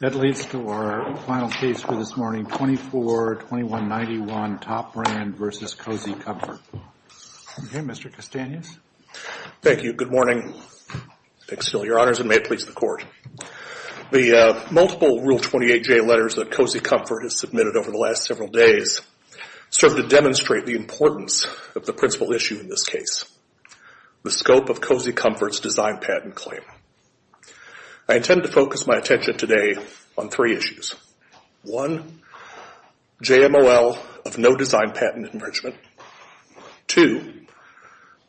That leads to our final case for this morning, 24-2191 Top Brand v. Cozy Comfort. Okay, Mr. Castanhas. Thank you. Good morning. Thanks to all your honors, and may it please the Court. The multiple Rule 28J letters that Cozy Comfort has submitted over the last several days serve to demonstrate the importance of the principal issue in this case, the scope of Cozy Comfort's design patent claim. I intend to focus my attention today on three issues. One, JMOL of no design patent infringement. Two,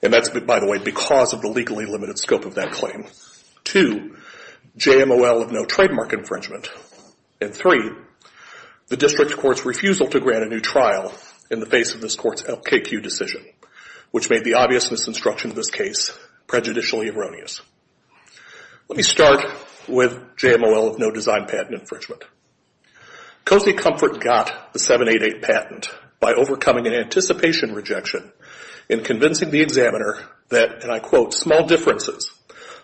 and that's, by the way, because of the legally limited scope of that claim. Two, JMOL of no trademark infringement. And three, the district court's refusal to grant a new trial in the face of this court's LKQ decision, which made the obviousness instruction in this case prejudicially erroneous. Let me start with JMOL of no design patent infringement. Cozy Comfort got the 788 patent by overcoming an anticipation rejection in convincing the examiner that, and I quote, small differences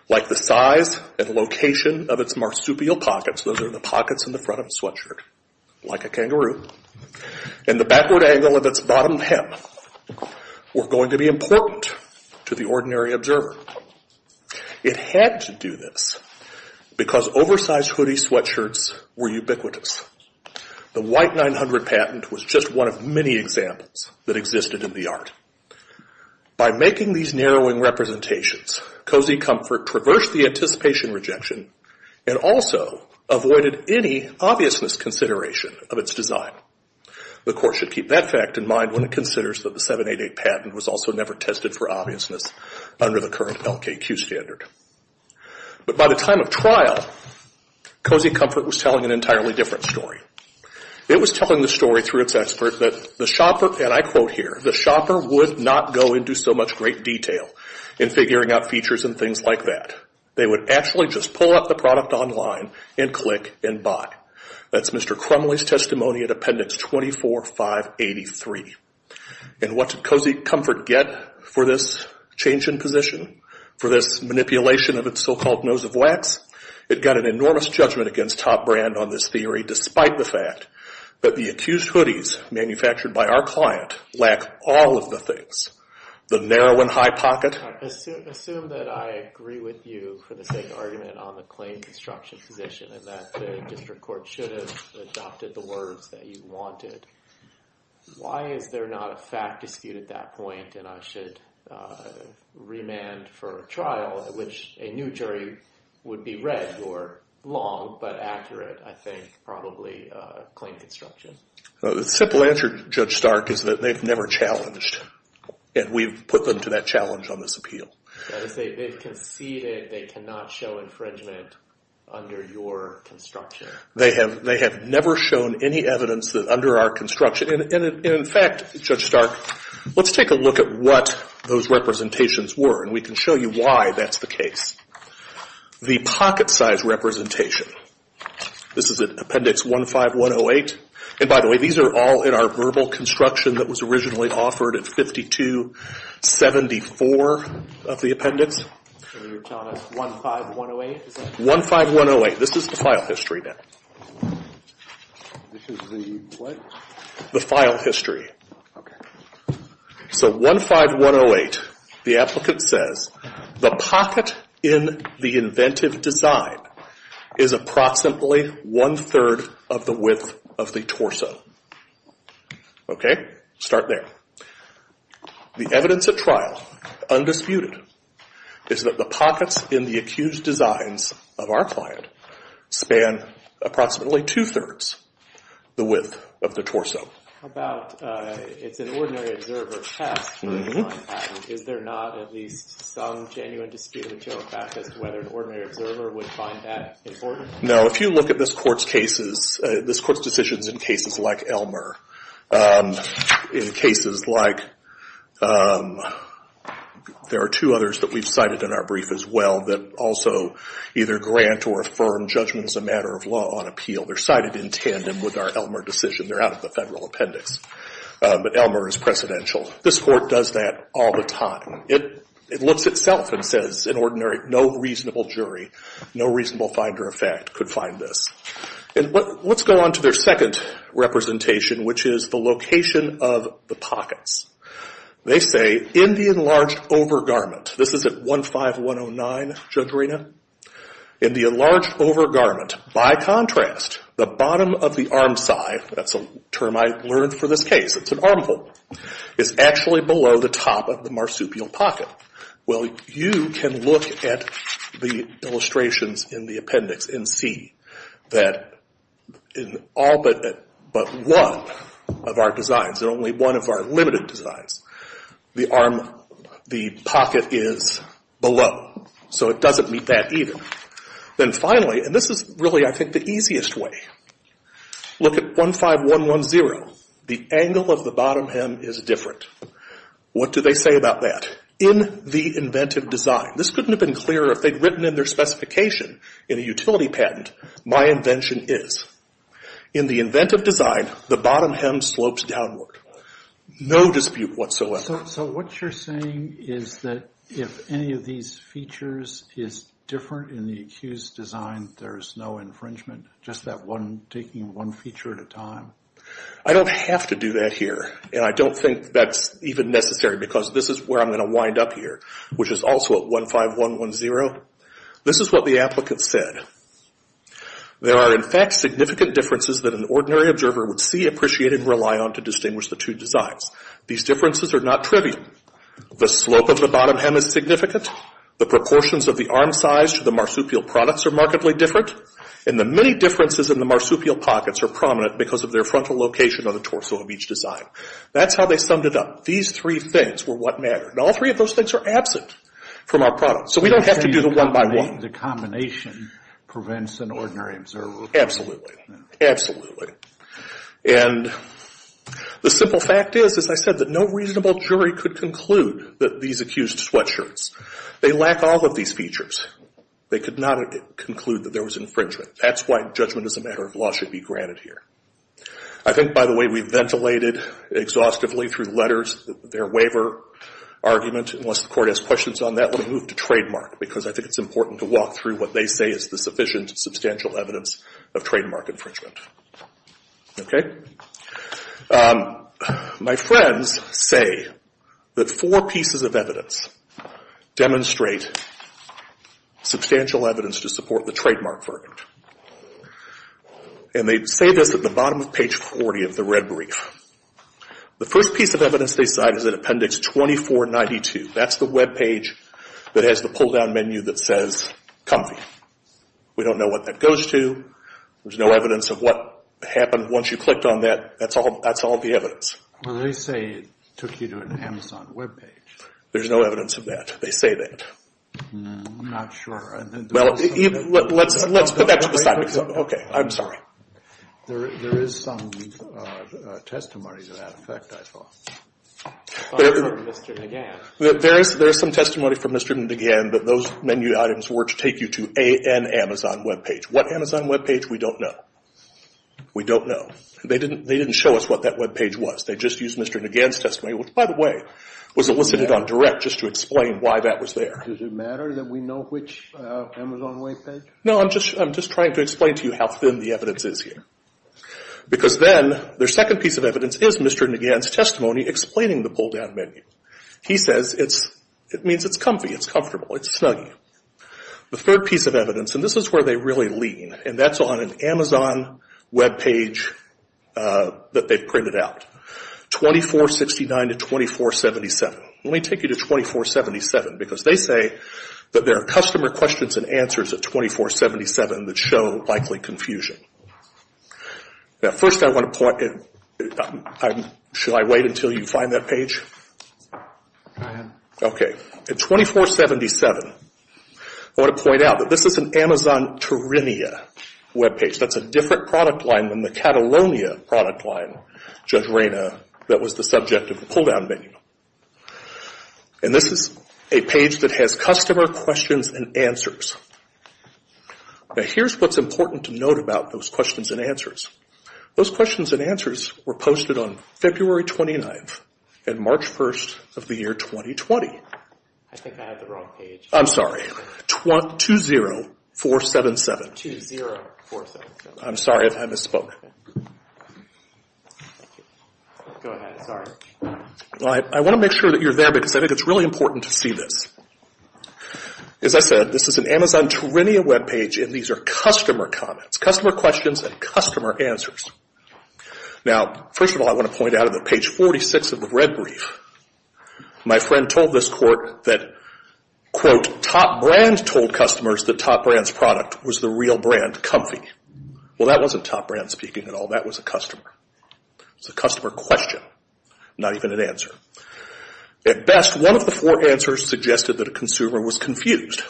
like the size and location of its marsupial pockets, those are the pockets in the front of a sweatshirt, like a kangaroo, and the backward angle of its bottom hem were going to be important to the ordinary observer. It had to do this because oversized hoodie sweatshirts were ubiquitous. The white 900 patent was just one of many examples that existed in the art. By making these narrowing representations, Cozy Comfort traversed the anticipation rejection and also avoided any obviousness consideration of its design. The court should keep that fact in mind when it considers that the 788 patent was also never tested for obviousness under the current LKQ standard. But by the time of trial, Cozy Comfort was telling an entirely different story. It was telling the story through its expert that the shopper, and I quote here, the shopper would not go into so much great detail in figuring out features and things like that. They would actually just pull up the product online and click and buy. That's Mr. Crumley's testimony at Appendix 24583. And what did Cozy Comfort get for this change in position, for this manipulation of its so-called nose of wax? It got an enormous judgment against Top Brand on this theory despite the fact that the accused hoodies manufactured by our client lack all of the things. The narrow and high pocket. I assume that I agree with you for the sake of argument on the claim construction position and that the district court should have adopted the words that you wanted. Why is there not a fact dispute at that point and I should remand for a trial at which a new jury would be read your long but accurate, I think, probably claim construction? The simple answer, Judge Stark, is that they've never challenged. And we've put them to that challenge on this appeal. They've conceded they cannot show infringement under your construction. They have never shown any evidence that under our construction. And in fact, Judge Stark, let's take a look at what those representations were and we can show you why that's the case. The pocket size representation. This is at Appendix 15108. And by the way, these are all in our verbal construction that was originally offered at 5274 of the appendix. So you're telling us 15108? 15108. This is the file history now. This is the what? The file history. So 15108, the applicant says, the pocket in the inventive design is approximately one-third of the width of the torso. Okay? Start there. The evidence at trial, undisputed, is that the pockets in the accused designs of our client span approximately two-thirds the width of the torso. Now, if you look at this court's cases, this court's decisions in cases like Elmer, in cases like, there are two others that we've cited in our brief as well that also either grant or affirm judgment as a matter of law on appeal. They're cited in tandem with our Elmer decision. They're out of the Federalist Code. But Elmer is precedential. This court does that all the time. It looks itself and says, in ordinary, no reasonable jury, no reasonable finder of fact could find this. And let's go on to their second representation, which is the location of the pockets. They say, in the enlarged overgarment, this is at 15109, Judge Rina. In the enlarged overgarment, by contrast, the bottom of the armscye, that's a term I learned for this case, it's an armhole, is actually below the top of the marsupial pocket. Well, you can look at the illustrations in the appendix and see that in all but one of our designs, in only one of our limited designs, the arm, the pocket is below. So it doesn't meet that either. Then finally, and this is really, I think, the easiest way, look at 15110. The angle of the bottom hem is different. What do they say about that? In the inventive design. This couldn't have been clearer if they'd written in their specification in a utility patent, my invention is. In the inventive design, the bottom hem slopes downward. No dispute whatsoever. So what you're saying is that if any of these features is different in the accused design, then there's no infringement, just that one, taking one feature at a time? I don't have to do that here, and I don't think that's even necessary because this is where I'm going to wind up here, which is also at 15110. This is what the applicant said. There are, in fact, significant differences that an ordinary observer would see, appreciate, and rely on to distinguish the two designs. These differences are not trivial. The slope of the bottom hem is significant. The proportions of the arm size to the marsupial products are markedly different. And the many differences in the marsupial pockets are prominent because of their frontal location on the torso of each design. That's how they summed it up. These three things were what mattered. And all three of those things are absent from our product. So we don't have to do the one-by-one. The combination prevents an ordinary observer. Absolutely. Absolutely. And the simple fact is, as I said, that no reasonable jury could conclude that these accused sweatshirts. They lack all of these features. They could not conclude that there was infringement. That's why judgment as a matter of law should be granted here. I think, by the way, we've ventilated exhaustively through letters their waiver argument. Unless the Court has questions on that, let me move to trademark because I think it's important to walk through what they say is the sufficient substantial evidence of trademark infringement. Okay? My friends say that four pieces of evidence demonstrate substantial evidence to support the trademark verdict. And they say this at the bottom of page 40 of the red brief. The first piece of evidence they cite is in appendix 2492. That's the webpage that has the pull-down menu that says comfy. We don't know what that goes to. There's no evidence of what happened once you clicked on that. That's all the evidence. Well, they say it took you to an Amazon webpage. There's no evidence of that. They say that. I'm not sure. Well, let's put that to the side. Okay. I'm sorry. There is some testimony to that effect, I thought. There is some testimony from Mr. Negan that those menu items were to take you to an Amazon webpage. What Amazon webpage? We don't know. We don't know. They didn't show us what that webpage was. They just used Mr. Negan's testimony, which, by the way, was elicited on direct just to explain why that was there. Does it matter that we know which Amazon webpage? No, I'm just trying to explain to you how thin the evidence is here because then their second piece of evidence is Mr. Negan's testimony explaining the pull-down menu. He says it means it's comfy, it's comfortable, it's snuggy. The third piece of evidence, and this is where they really lean, and that's on an Amazon webpage that they've printed out, 2469 to 2477. Let me take you to 2477 because they say that there are customer questions and answers at 2477 that show likely confusion. Now, first I want to point – should I wait until you find that page? Go ahead. Okay. At 2477, I want to point out that this is an Amazon Terinia webpage. That's a different product line than the Catalonia product line, Judge Reyna, that was the subject of the pull-down menu. And this is a page that has customer questions and answers. Now, here's what's important to note about those questions and answers. Those questions and answers were posted on February 29th and March 1st of the year 2020. I think I have the wrong page. I'm sorry. 20477. 20477. I'm sorry if I misspoke. Go ahead. Sorry. I want to make sure that you're there because I think it's really important to see this. As I said, this is an Amazon Terinia webpage, and these are customer comments, customer questions, and customer answers. Now, first of all, I want to point out that on page 46 of the red brief, my friend told this court that, quote, Top Brand told customers that Top Brand's product was the real brand, Comfy. Well, that wasn't Top Brand speaking at all. That was a customer. It was a customer question, not even an answer. At best, one of the four answers suggested that a consumer was confused,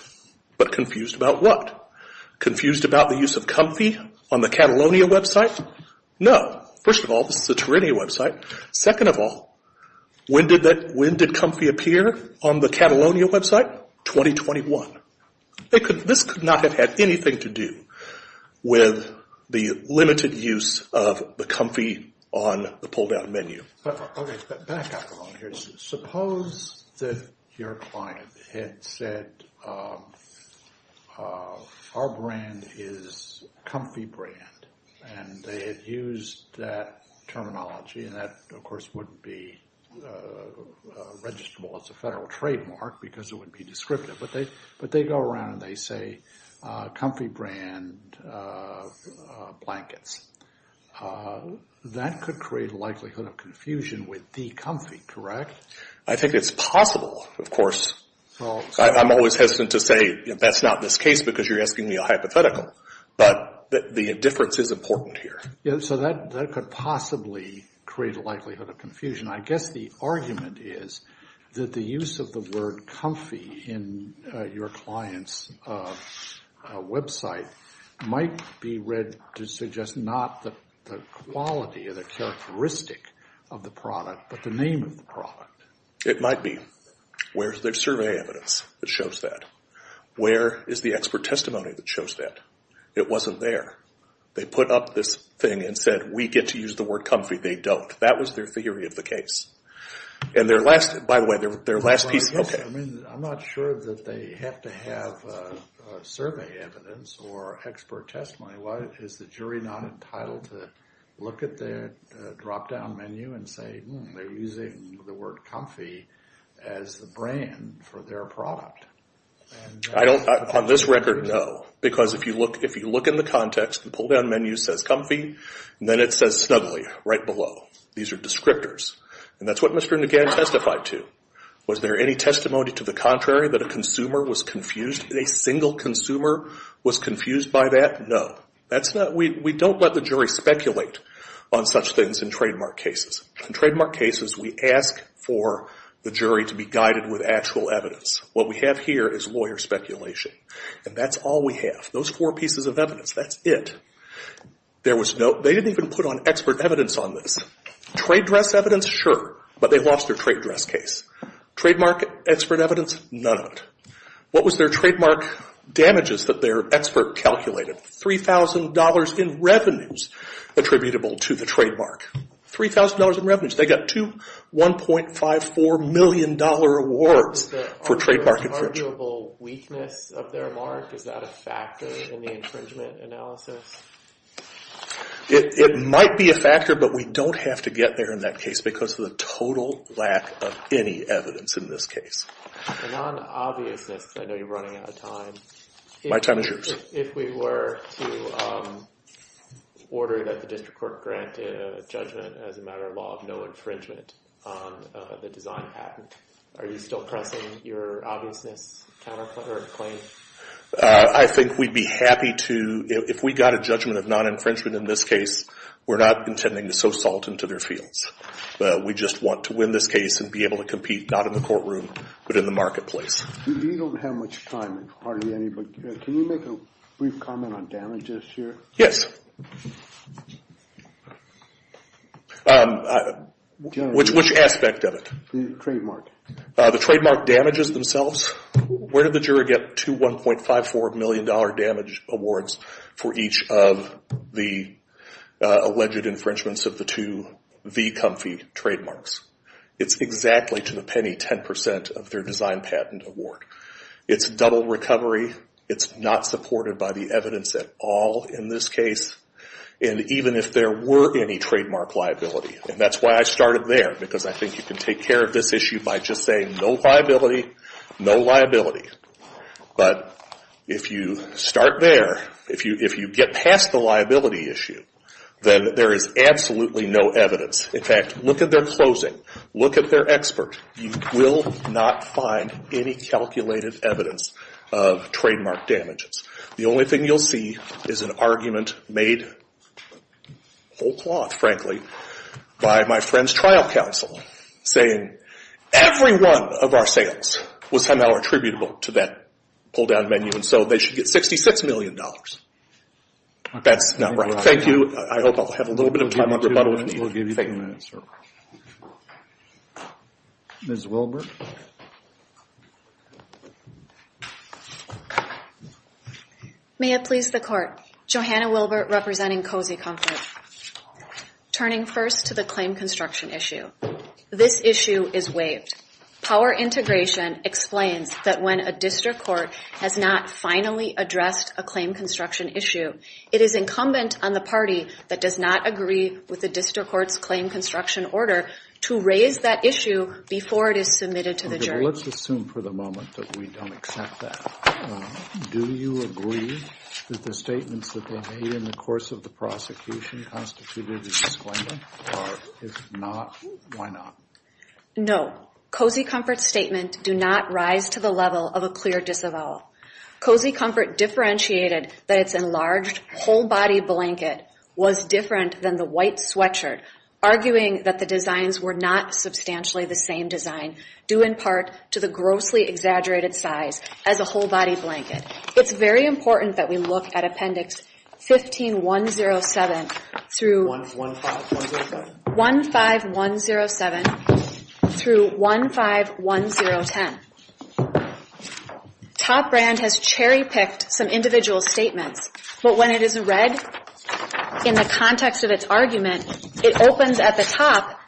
but confused about what? Confused about the use of Comfy on the Catalonia website? No. First of all, this is a Terinia website. Second of all, when did Comfy appear on the Catalonia website? 2021. This could not have had anything to do with the limited use of the Comfy on the pull-down menu. Back up a moment here. Suppose that your client had said, our brand is Comfy Brand, and they had used that terminology, and that, of course, wouldn't be registrable as a federal trademark because it would be descriptive, but they go around and they say Comfy Brand blankets. That could create a likelihood of confusion with the Comfy, correct? I think it's possible, of course. I'm always hesitant to say that's not this case because you're asking me a hypothetical, but the difference is important here. So that could possibly create a likelihood of confusion. I guess the argument is that the use of the word Comfy in your client's website might be read to suggest not the quality or the characteristic of the product, but the name of the product. It might be. Where's the survey evidence that shows that? Where is the expert testimony that shows that? It wasn't there. They put up this thing and said, we get to use the word Comfy. They don't. That was their theory of the case. And their last, by the way, their last piece, okay. I'm not sure that they have to have survey evidence or expert testimony. Why is the jury not entitled to look at the drop-down menu and say, hmm, they're using the word Comfy as the brand for their product? On this record, no, because if you look in the context, the pull-down menu says Comfy, and then it says Snuggly right below. These are descriptors. And that's what Mr. Negan testified to. Was there any testimony to the contrary, that a consumer was confused? A single consumer was confused by that? No. We don't let the jury speculate on such things in trademark cases. In trademark cases, we ask for the jury to be guided with actual evidence. What we have here is lawyer speculation, and that's all we have. Those four pieces of evidence, that's it. They didn't even put on expert evidence on this. Trade dress evidence, sure, but they lost their trade dress case. Trademark expert evidence, none of it. What was their trademark damages that their expert calculated? $3,000 in revenues attributable to the trademark. $3,000 in revenues. They got two $1.54 million awards for trademark infringement. Is that an arguable weakness of their mark? Is that a factor in the infringement analysis? It might be a factor, but we don't have to get there in that case because of the total lack of any evidence in this case. And on obviousness, I know you're running out of time. My time is yours. If we were to order that the district court grant a judgment as a matter of law of no infringement on the design patent, are you still pressing your obviousness claim? I think we'd be happy to. If we got a judgment of non-infringement in this case, we're not intending to sow salt into their fields. We just want to win this case and be able to compete not in the courtroom but in the marketplace. We don't have much time, hardly any, but can you make a brief comment on damages here? Yes. Which aspect of it? The trademark. The trademark damages themselves. Where did the juror get two $1.54 million damage awards for each of the alleged infringements of the two V. Comfey trademarks? It's exactly, to the penny, 10% of their design patent award. It's double recovery. It's not supported by the evidence at all in this case, and even if there were any trademark liability. And that's why I started there, because I think you can take care of this issue by just saying no liability, no liability. But if you start there, if you get past the liability issue, then there is absolutely no evidence. In fact, look at their closing. Look at their expert. You will not find any calculated evidence of trademark damages. The only thing you'll see is an argument made whole cloth, frankly, by my friend's trial counsel saying every one of our sales was somehow attributable to that pull-down menu, and so they should get $66 million. That's not right. Thank you. I hope I'll have a little bit of time on rebuttal if need be. We'll give you three minutes, sir. Ms. Wilbert. May it please the Court. Johanna Wilbert representing Cozy Comfort. Turning first to the claim construction issue. This issue is waived. Power integration explains that when a district court has not finally addressed a claim construction issue, it is incumbent on the party that does not agree with the district court's claim construction order to raise that issue before it is submitted to the jury. Let's assume for the moment that we don't accept that. Do you agree that the statements that were made in the course of the prosecution constituted a disclaimer, or if not, why not? No. Cozy Comfort's statement do not rise to the level of a clear disavowal. Cozy Comfort differentiated that its enlarged, whole-body blanket was different than the white sweatshirt, arguing that the designs were not substantially the same design, due in part to the grossly exaggerated size as a whole-body blanket. It's very important that we look at Appendix 15107 through 15107 through 151010. Top Brand has cherry-picked some individual statements, but when it is read in the context of its argument, it opens at the top,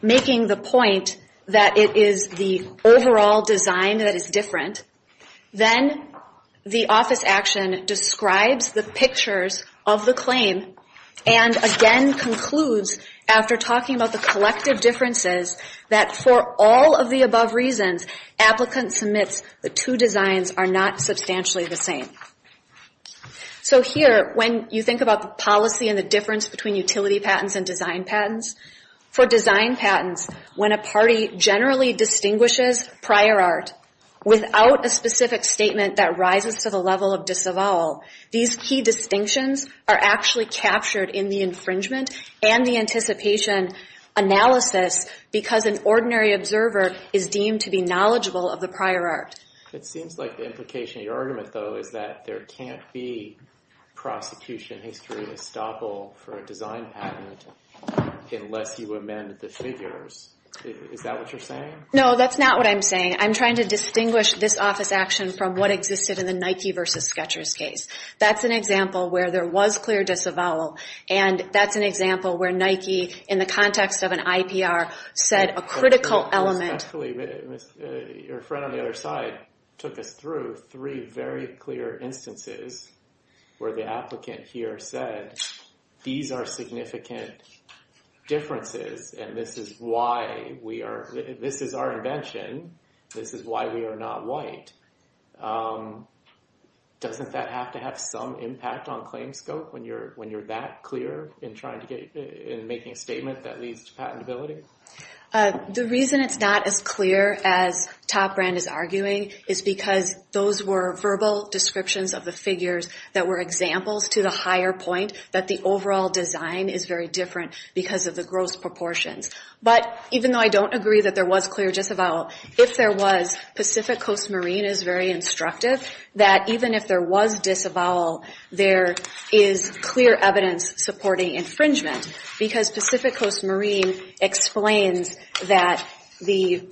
making the point that it is the overall design that is different. Then the office action describes the pictures of the claim, and again concludes, after talking about the collective differences, that for all of the above reasons, applicant submits the two designs are not substantially the same. So here, when you think about the policy and the difference between utility patents and design patents, for design patents, when a party generally distinguishes prior art without a specific statement that rises to the level of disavowal, these key distinctions are actually captured in the infringement and the anticipation analysis, because an ordinary observer is deemed to be knowledgeable of the prior art. It seems like the implication of your argument, though, is that there can't be prosecution history estoppel for a design patent unless you amend the figures. Is that what you're saying? No, that's not what I'm saying. I'm trying to distinguish this office action from what existed in the Nike v. Sketchers case. That's an example where there was clear disavowal, and that's an example where Nike, in the context of an IPR, said a critical element... Your friend on the other side took us through three very clear instances where the applicant here said, these are significant differences, and this is our invention. This is why we are not white. Doesn't that have to have some impact on claim scope when you're that clear in making a statement that leads to patentability? The reason it's not as clear as Top Brand is arguing is because those were verbal descriptions of the figures that were examples to the higher point, that the overall design is very different because of the gross proportions. But even though I don't agree that there was clear disavowal, if there was, Pacific Coast Marine is very instructive that even if there was disavowal, there is clear evidence supporting infringement, because Pacific Coast Marine explains that the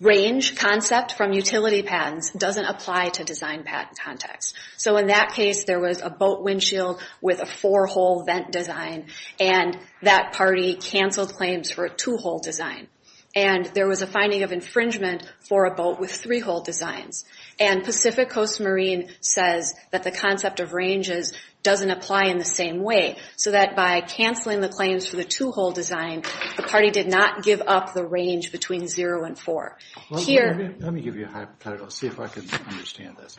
range concept from utility patents doesn't apply to design patent context. So in that case, there was a boat windshield with a four-hole vent design, and that party canceled claims for a two-hole design. And there was a finding of infringement for a boat with three-hole designs. And Pacific Coast Marine says that the concept of ranges doesn't apply in the same way, so that by canceling the claims for the two-hole design, the party did not give up the range between zero and four. Let me give you a hypothetical, see if I can understand this.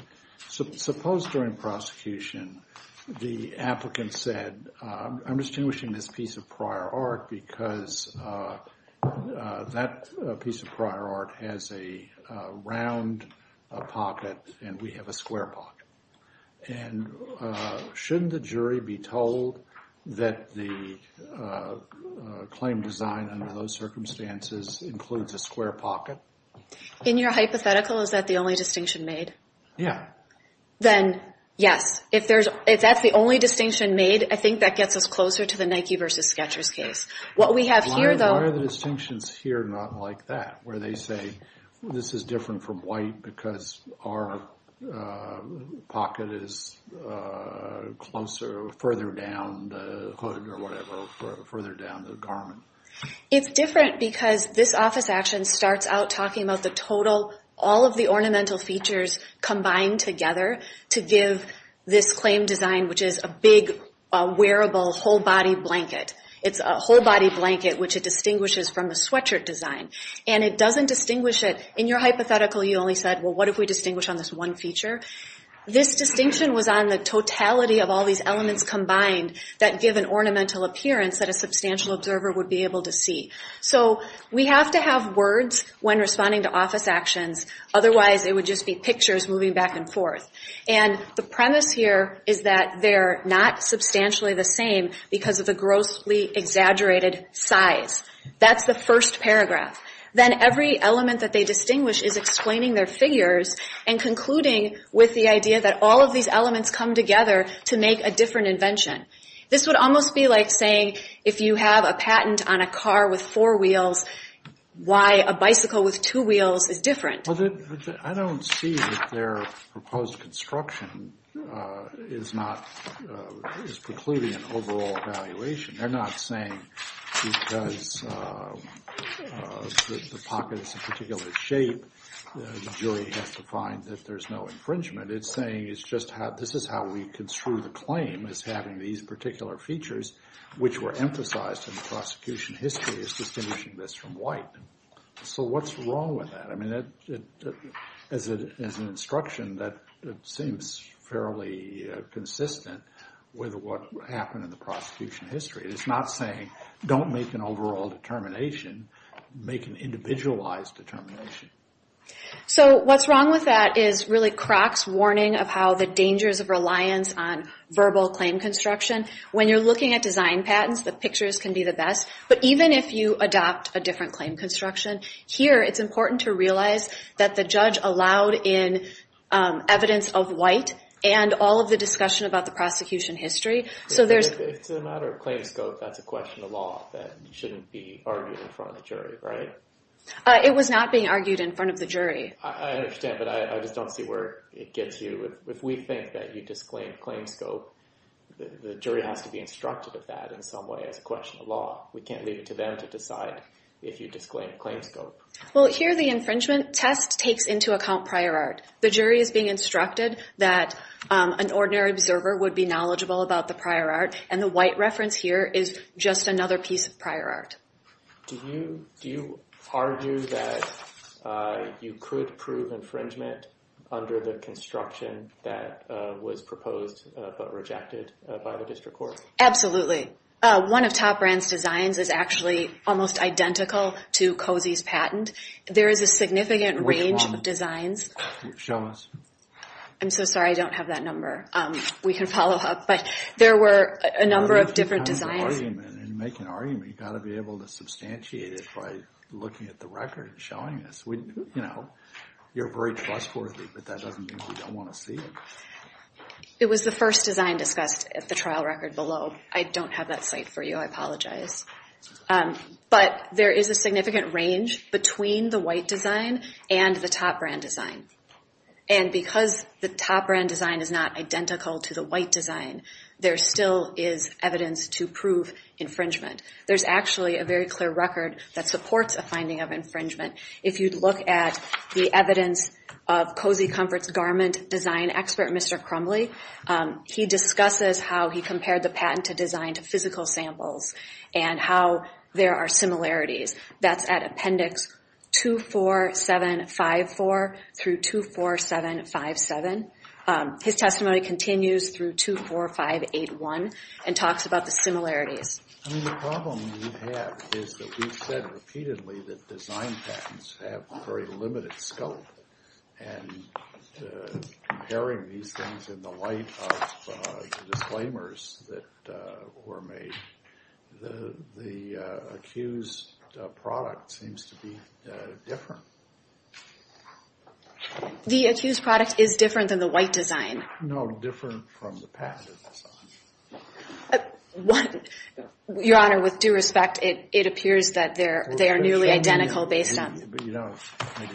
Suppose during prosecution the applicant said, I'm distinguishing this piece of prior art because that piece of prior art has a round pocket and we have a square pocket. And shouldn't the jury be told that the claim design under those circumstances includes a square pocket? In your hypothetical, is that the only distinction made? Then, yes. If that's the only distinction made, I think that gets us closer to the Nike versus Skechers case. Why are the distinctions here not like that, where they say, this is different from white because our pocket is further down the hood or whatever, further down the garment? It's different because this office action starts out talking about the total, all of the ornamental features combined together to give this claim design, which is a big, wearable, whole-body blanket. It's a whole-body blanket, which it distinguishes from the sweatshirt design. And it doesn't distinguish it, in your hypothetical you only said, well, what if we distinguish on this one feature? This distinction was on the totality of all these elements combined that give an ornamental appearance that a substantial observer would be able to see. So we have to have words when responding to office actions, otherwise it would just be pictures moving back and forth. And the premise here is that they're not substantially the same because of the grossly exaggerated size. That's the first paragraph. Then every element that they distinguish is explaining their figures and concluding with the idea that all of these elements come together to make a different invention. This would almost be like saying if you have a patent on a car with four wheels, why a bicycle with two wheels is different. I don't see that their proposed construction is precluding an overall evaluation. They're not saying because the pocket is a particular shape, the jury has to find that there's no infringement. It's saying this is how we construe the claim as having these particular features, which were emphasized in the prosecution history is distinguishing this from white. So what's wrong with that? As an instruction that seems fairly consistent with what happened in the prosecution history. It's not saying don't make an overall determination, make an individualized determination. So what's wrong with that is really Croc's warning of how the dangers of reliance on verbal claim construction. When you're looking at design patents, the pictures can be the best, but even if you adopt a different claim construction here, it's important to realize that the judge allowed in evidence of white and all of the discussion about the prosecution history. So there's a matter of claim scope. That's a question of law that shouldn't be argued in front of the jury. It was not being argued in front of the jury. I understand, but I just don't see where it gets you. If we think that you disclaim claim scope, the jury has to be instructed of that in some way as a question of law. We can't leave it to them to decide if you disclaim claim scope. Well, here the infringement test takes into account prior art. And the white reference here is just another piece of prior art. Do you argue that you could prove infringement under the construction that was proposed but rejected by the district court? Absolutely. One of Top Brand's designs is actually almost identical to Cozy's patent. There is a significant range of designs. I'm so sorry, I don't have that number. We can follow up, but there were a number of different designs. You've got to be able to substantiate it by looking at the record and showing us. You're very trustworthy, but that doesn't mean we don't want to see it. It was the first design discussed at the trial record below. I don't have that site for you. I apologize. But there is a significant range between the white design and the Top Brand design. And because the Top Brand design is not identical to the white design, there still is evidence to prove infringement. There's actually a very clear record that supports a finding of infringement. If you look at the evidence of Cozy Comfort's garment design expert, Mr. Crumbly, he discusses how he compared the patent to designed physical samples and how there are similarities. That's at appendix 24754 through 24757. His testimony continues through 24581 and talks about the similarities. The problem we have is that we've said repeatedly that design patents have very limited scope. And comparing these things in the light of the disclaimers that were made, the accused product seems to be different. The accused product is different than the white design? No, different from the patent design. Your Honor, with due respect, it appears that they are nearly identical based on... Maybe you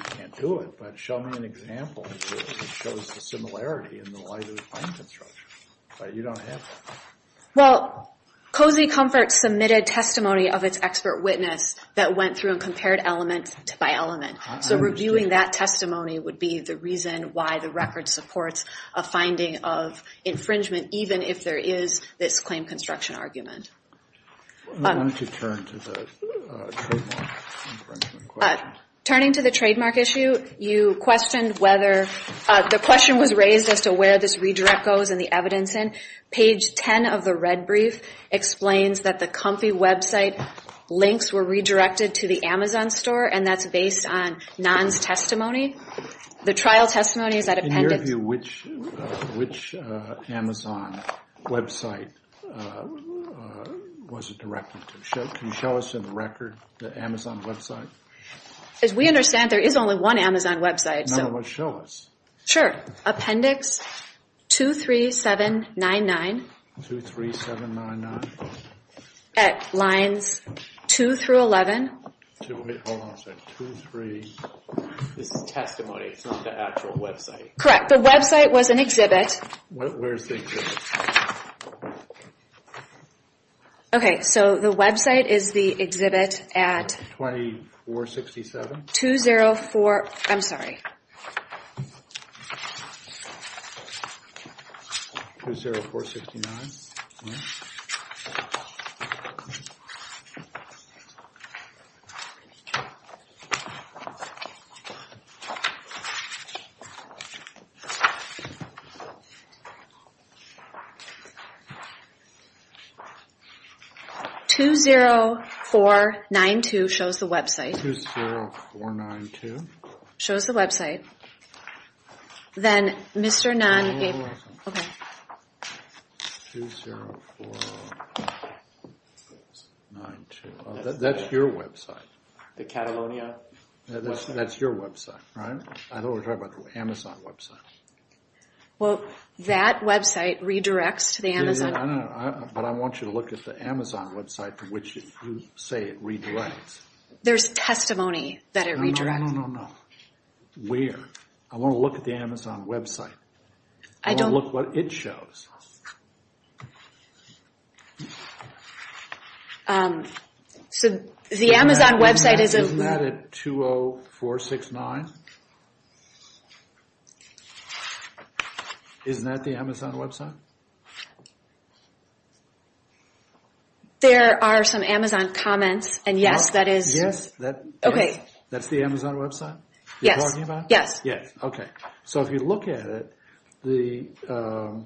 can't do it, but show me an example that shows the similarity in the light of the finding structure. Well, Cozy Comfort submitted testimony of its expert witness that went through and compared element by element. So reviewing that testimony would be the reason why the record supports a finding of infringement, even if there is this claim construction argument. Turning to the trademark issue, you questioned whether... The question was raised as to where this redirect goes and the evidence in. Page 10 of the red brief explains that the Comfy website links were redirected to the Amazon store, and that's based on Nahn's testimony. In your view, which Amazon website was it directed to? Can you show us in the record the Amazon website? As we understand, there is only one Amazon website. Sure. Appendix 23799 at lines 2 through 11. This is testimony. It's not the actual website. Correct. The website was an exhibit. Okay, so the website is the exhibit at... 2467? I'm sorry. 20492 shows the website. Then Mr. Nahn gave... 20492. That's your website. The Catalonia website? That's your website, right? I thought we were talking about the Amazon website. Well, that website redirects to the Amazon... But I want you to look at the Amazon website to which you say it redirects. There's testimony that it redirects. I don't know where. I want to look at the Amazon website. I want to look at what it shows. So the Amazon website is... Isn't that at 20469? Isn't that the Amazon website? There are some Amazon comments, and yes, that is... So if you look at it, the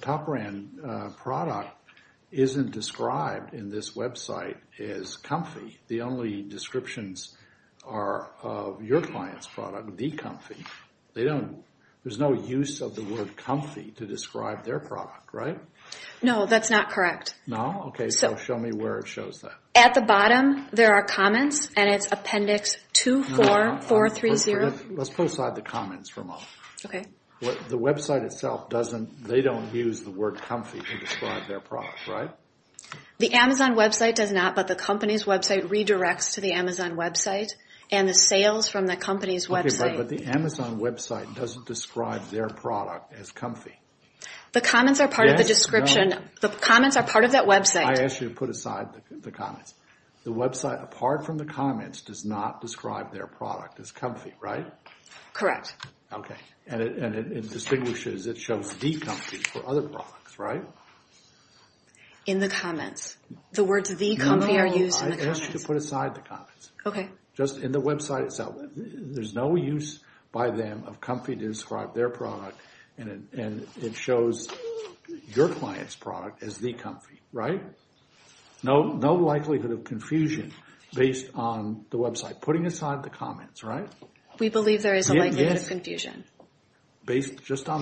top brand product isn't described in this website as comfy. The only descriptions are of your client's product, the comfy. There's no use of the word comfy to describe their product, right? No, that's not correct. At the bottom, there are comments, and it's appendix 24430. Let's put aside the comments for a moment. They don't use the word comfy to describe their product, right? The Amazon website does not, but the company's website redirects to the Amazon website, and the sales from the company's website... Okay, but the Amazon website doesn't describe their product as comfy. I ask you to put aside the comments. The website, apart from the comments, does not describe their product as comfy, right? Correct. Okay, and it distinguishes, it shows the comfy for other products, right? In the comments. The words the comfy are used in the comments. Okay. Just in the website itself, there's no use by them of comfy to describe their product, and it shows your client's product as the comfy, right? No likelihood of confusion based on the website. Putting aside the comments, right? Based just on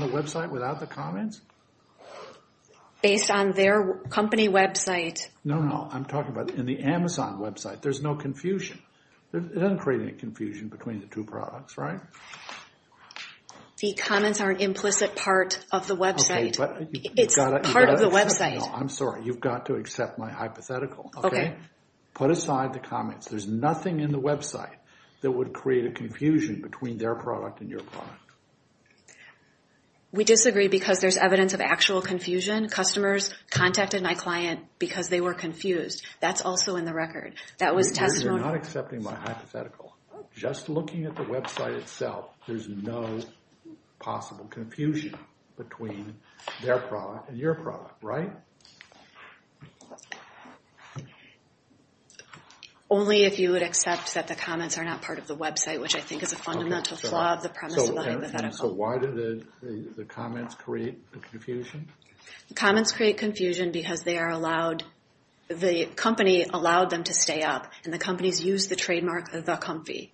the website, without the comments? No, no, I'm talking about in the Amazon website. There's no confusion. It doesn't create any confusion between the two products, right? The comments are an implicit part of the website. It's part of the website. I'm sorry, you've got to accept my hypothetical, okay? Put aside the comments. There's nothing in the website that would create a confusion between their product and your product. We disagree because there's evidence of actual confusion. Customers contacted my client because they were confused. That's also in the record. You're not accepting my hypothetical. Just looking at the website itself, there's no possible confusion between their product and your product, right? Only if you would accept that the comments are not part of the website, which I think is a fundamental flaw of the premise of the hypothetical. So why did the comments create the confusion? The comments create confusion because the company allowed them to stay up, and the companies used the trademark, The Comfy.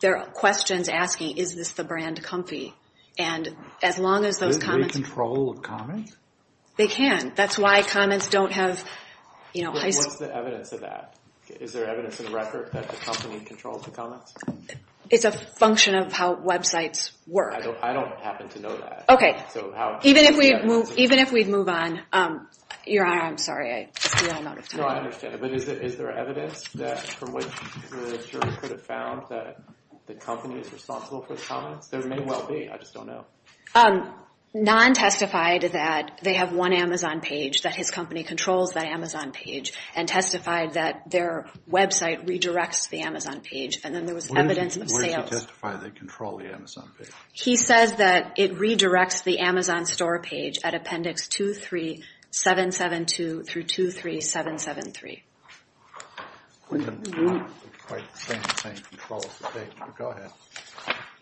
There are questions asking, is this the brand Comfy? Do they control the comments? They can. That's why comments don't have... What's the evidence of that? Is there evidence in the record that the company controls the comments? It's a function of how websites work. I don't happen to know that. Even if we move on, Your Honor, I'm sorry, I'm out of time. Is there evidence that the company is responsible for the comments? There may well be, I just don't know. Non-testified that they have one Amazon page, that his company controls that Amazon page, and testified that their website redirects the Amazon page, and then there was evidence of sales. Where does he testify they control the Amazon page? He says that it redirects the Amazon store page at appendix 23772 through 23773.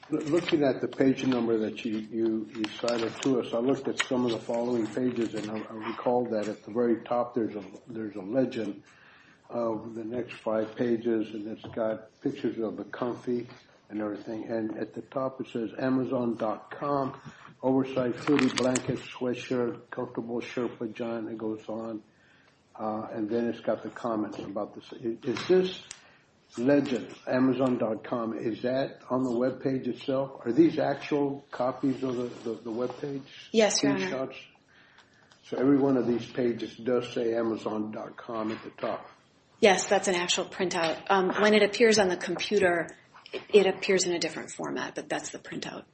Looking at the page number that you cited to us, I looked at some of the following pages, and I recall that at the very top there's a legend of the next five pages, and it's got pictures of the Comfy and everything, and at the top it says Amazon.com, oversized hoodies, blankets, sweatshirt, comfortable shirt, pajama, and it goes on. And then it's got the comments about this. Is this legend, Amazon.com, is that on the webpage itself? Are these actual copies of the webpage? Yes, Your Honor. So every one of these pages does say Amazon.com at the top? Yes, that's an actual printout. When it appears on the computer, it appears in a different format, but that's the printout.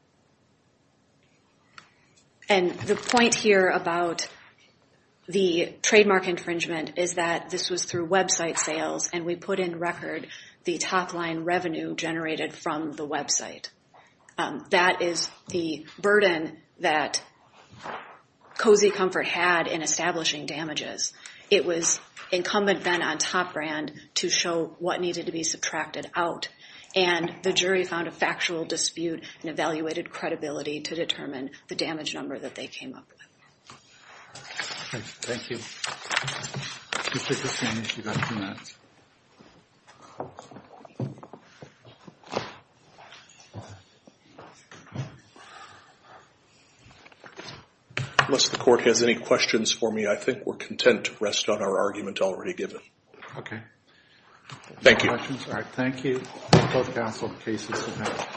And the point here about the trademark infringement is that this was through website sales, and we put in record the top-line revenue generated from the website. That is the burden that Cozy Comfort had in establishing damages. It was incumbent then on Top Brand to show what needed to be subtracted out, and the jury found a factual dispute and evaluated credibility to determine the damage number that they came up with. Thank you. Unless the Court has any questions for me, I think we're content to rest on our argument already given. Thank you.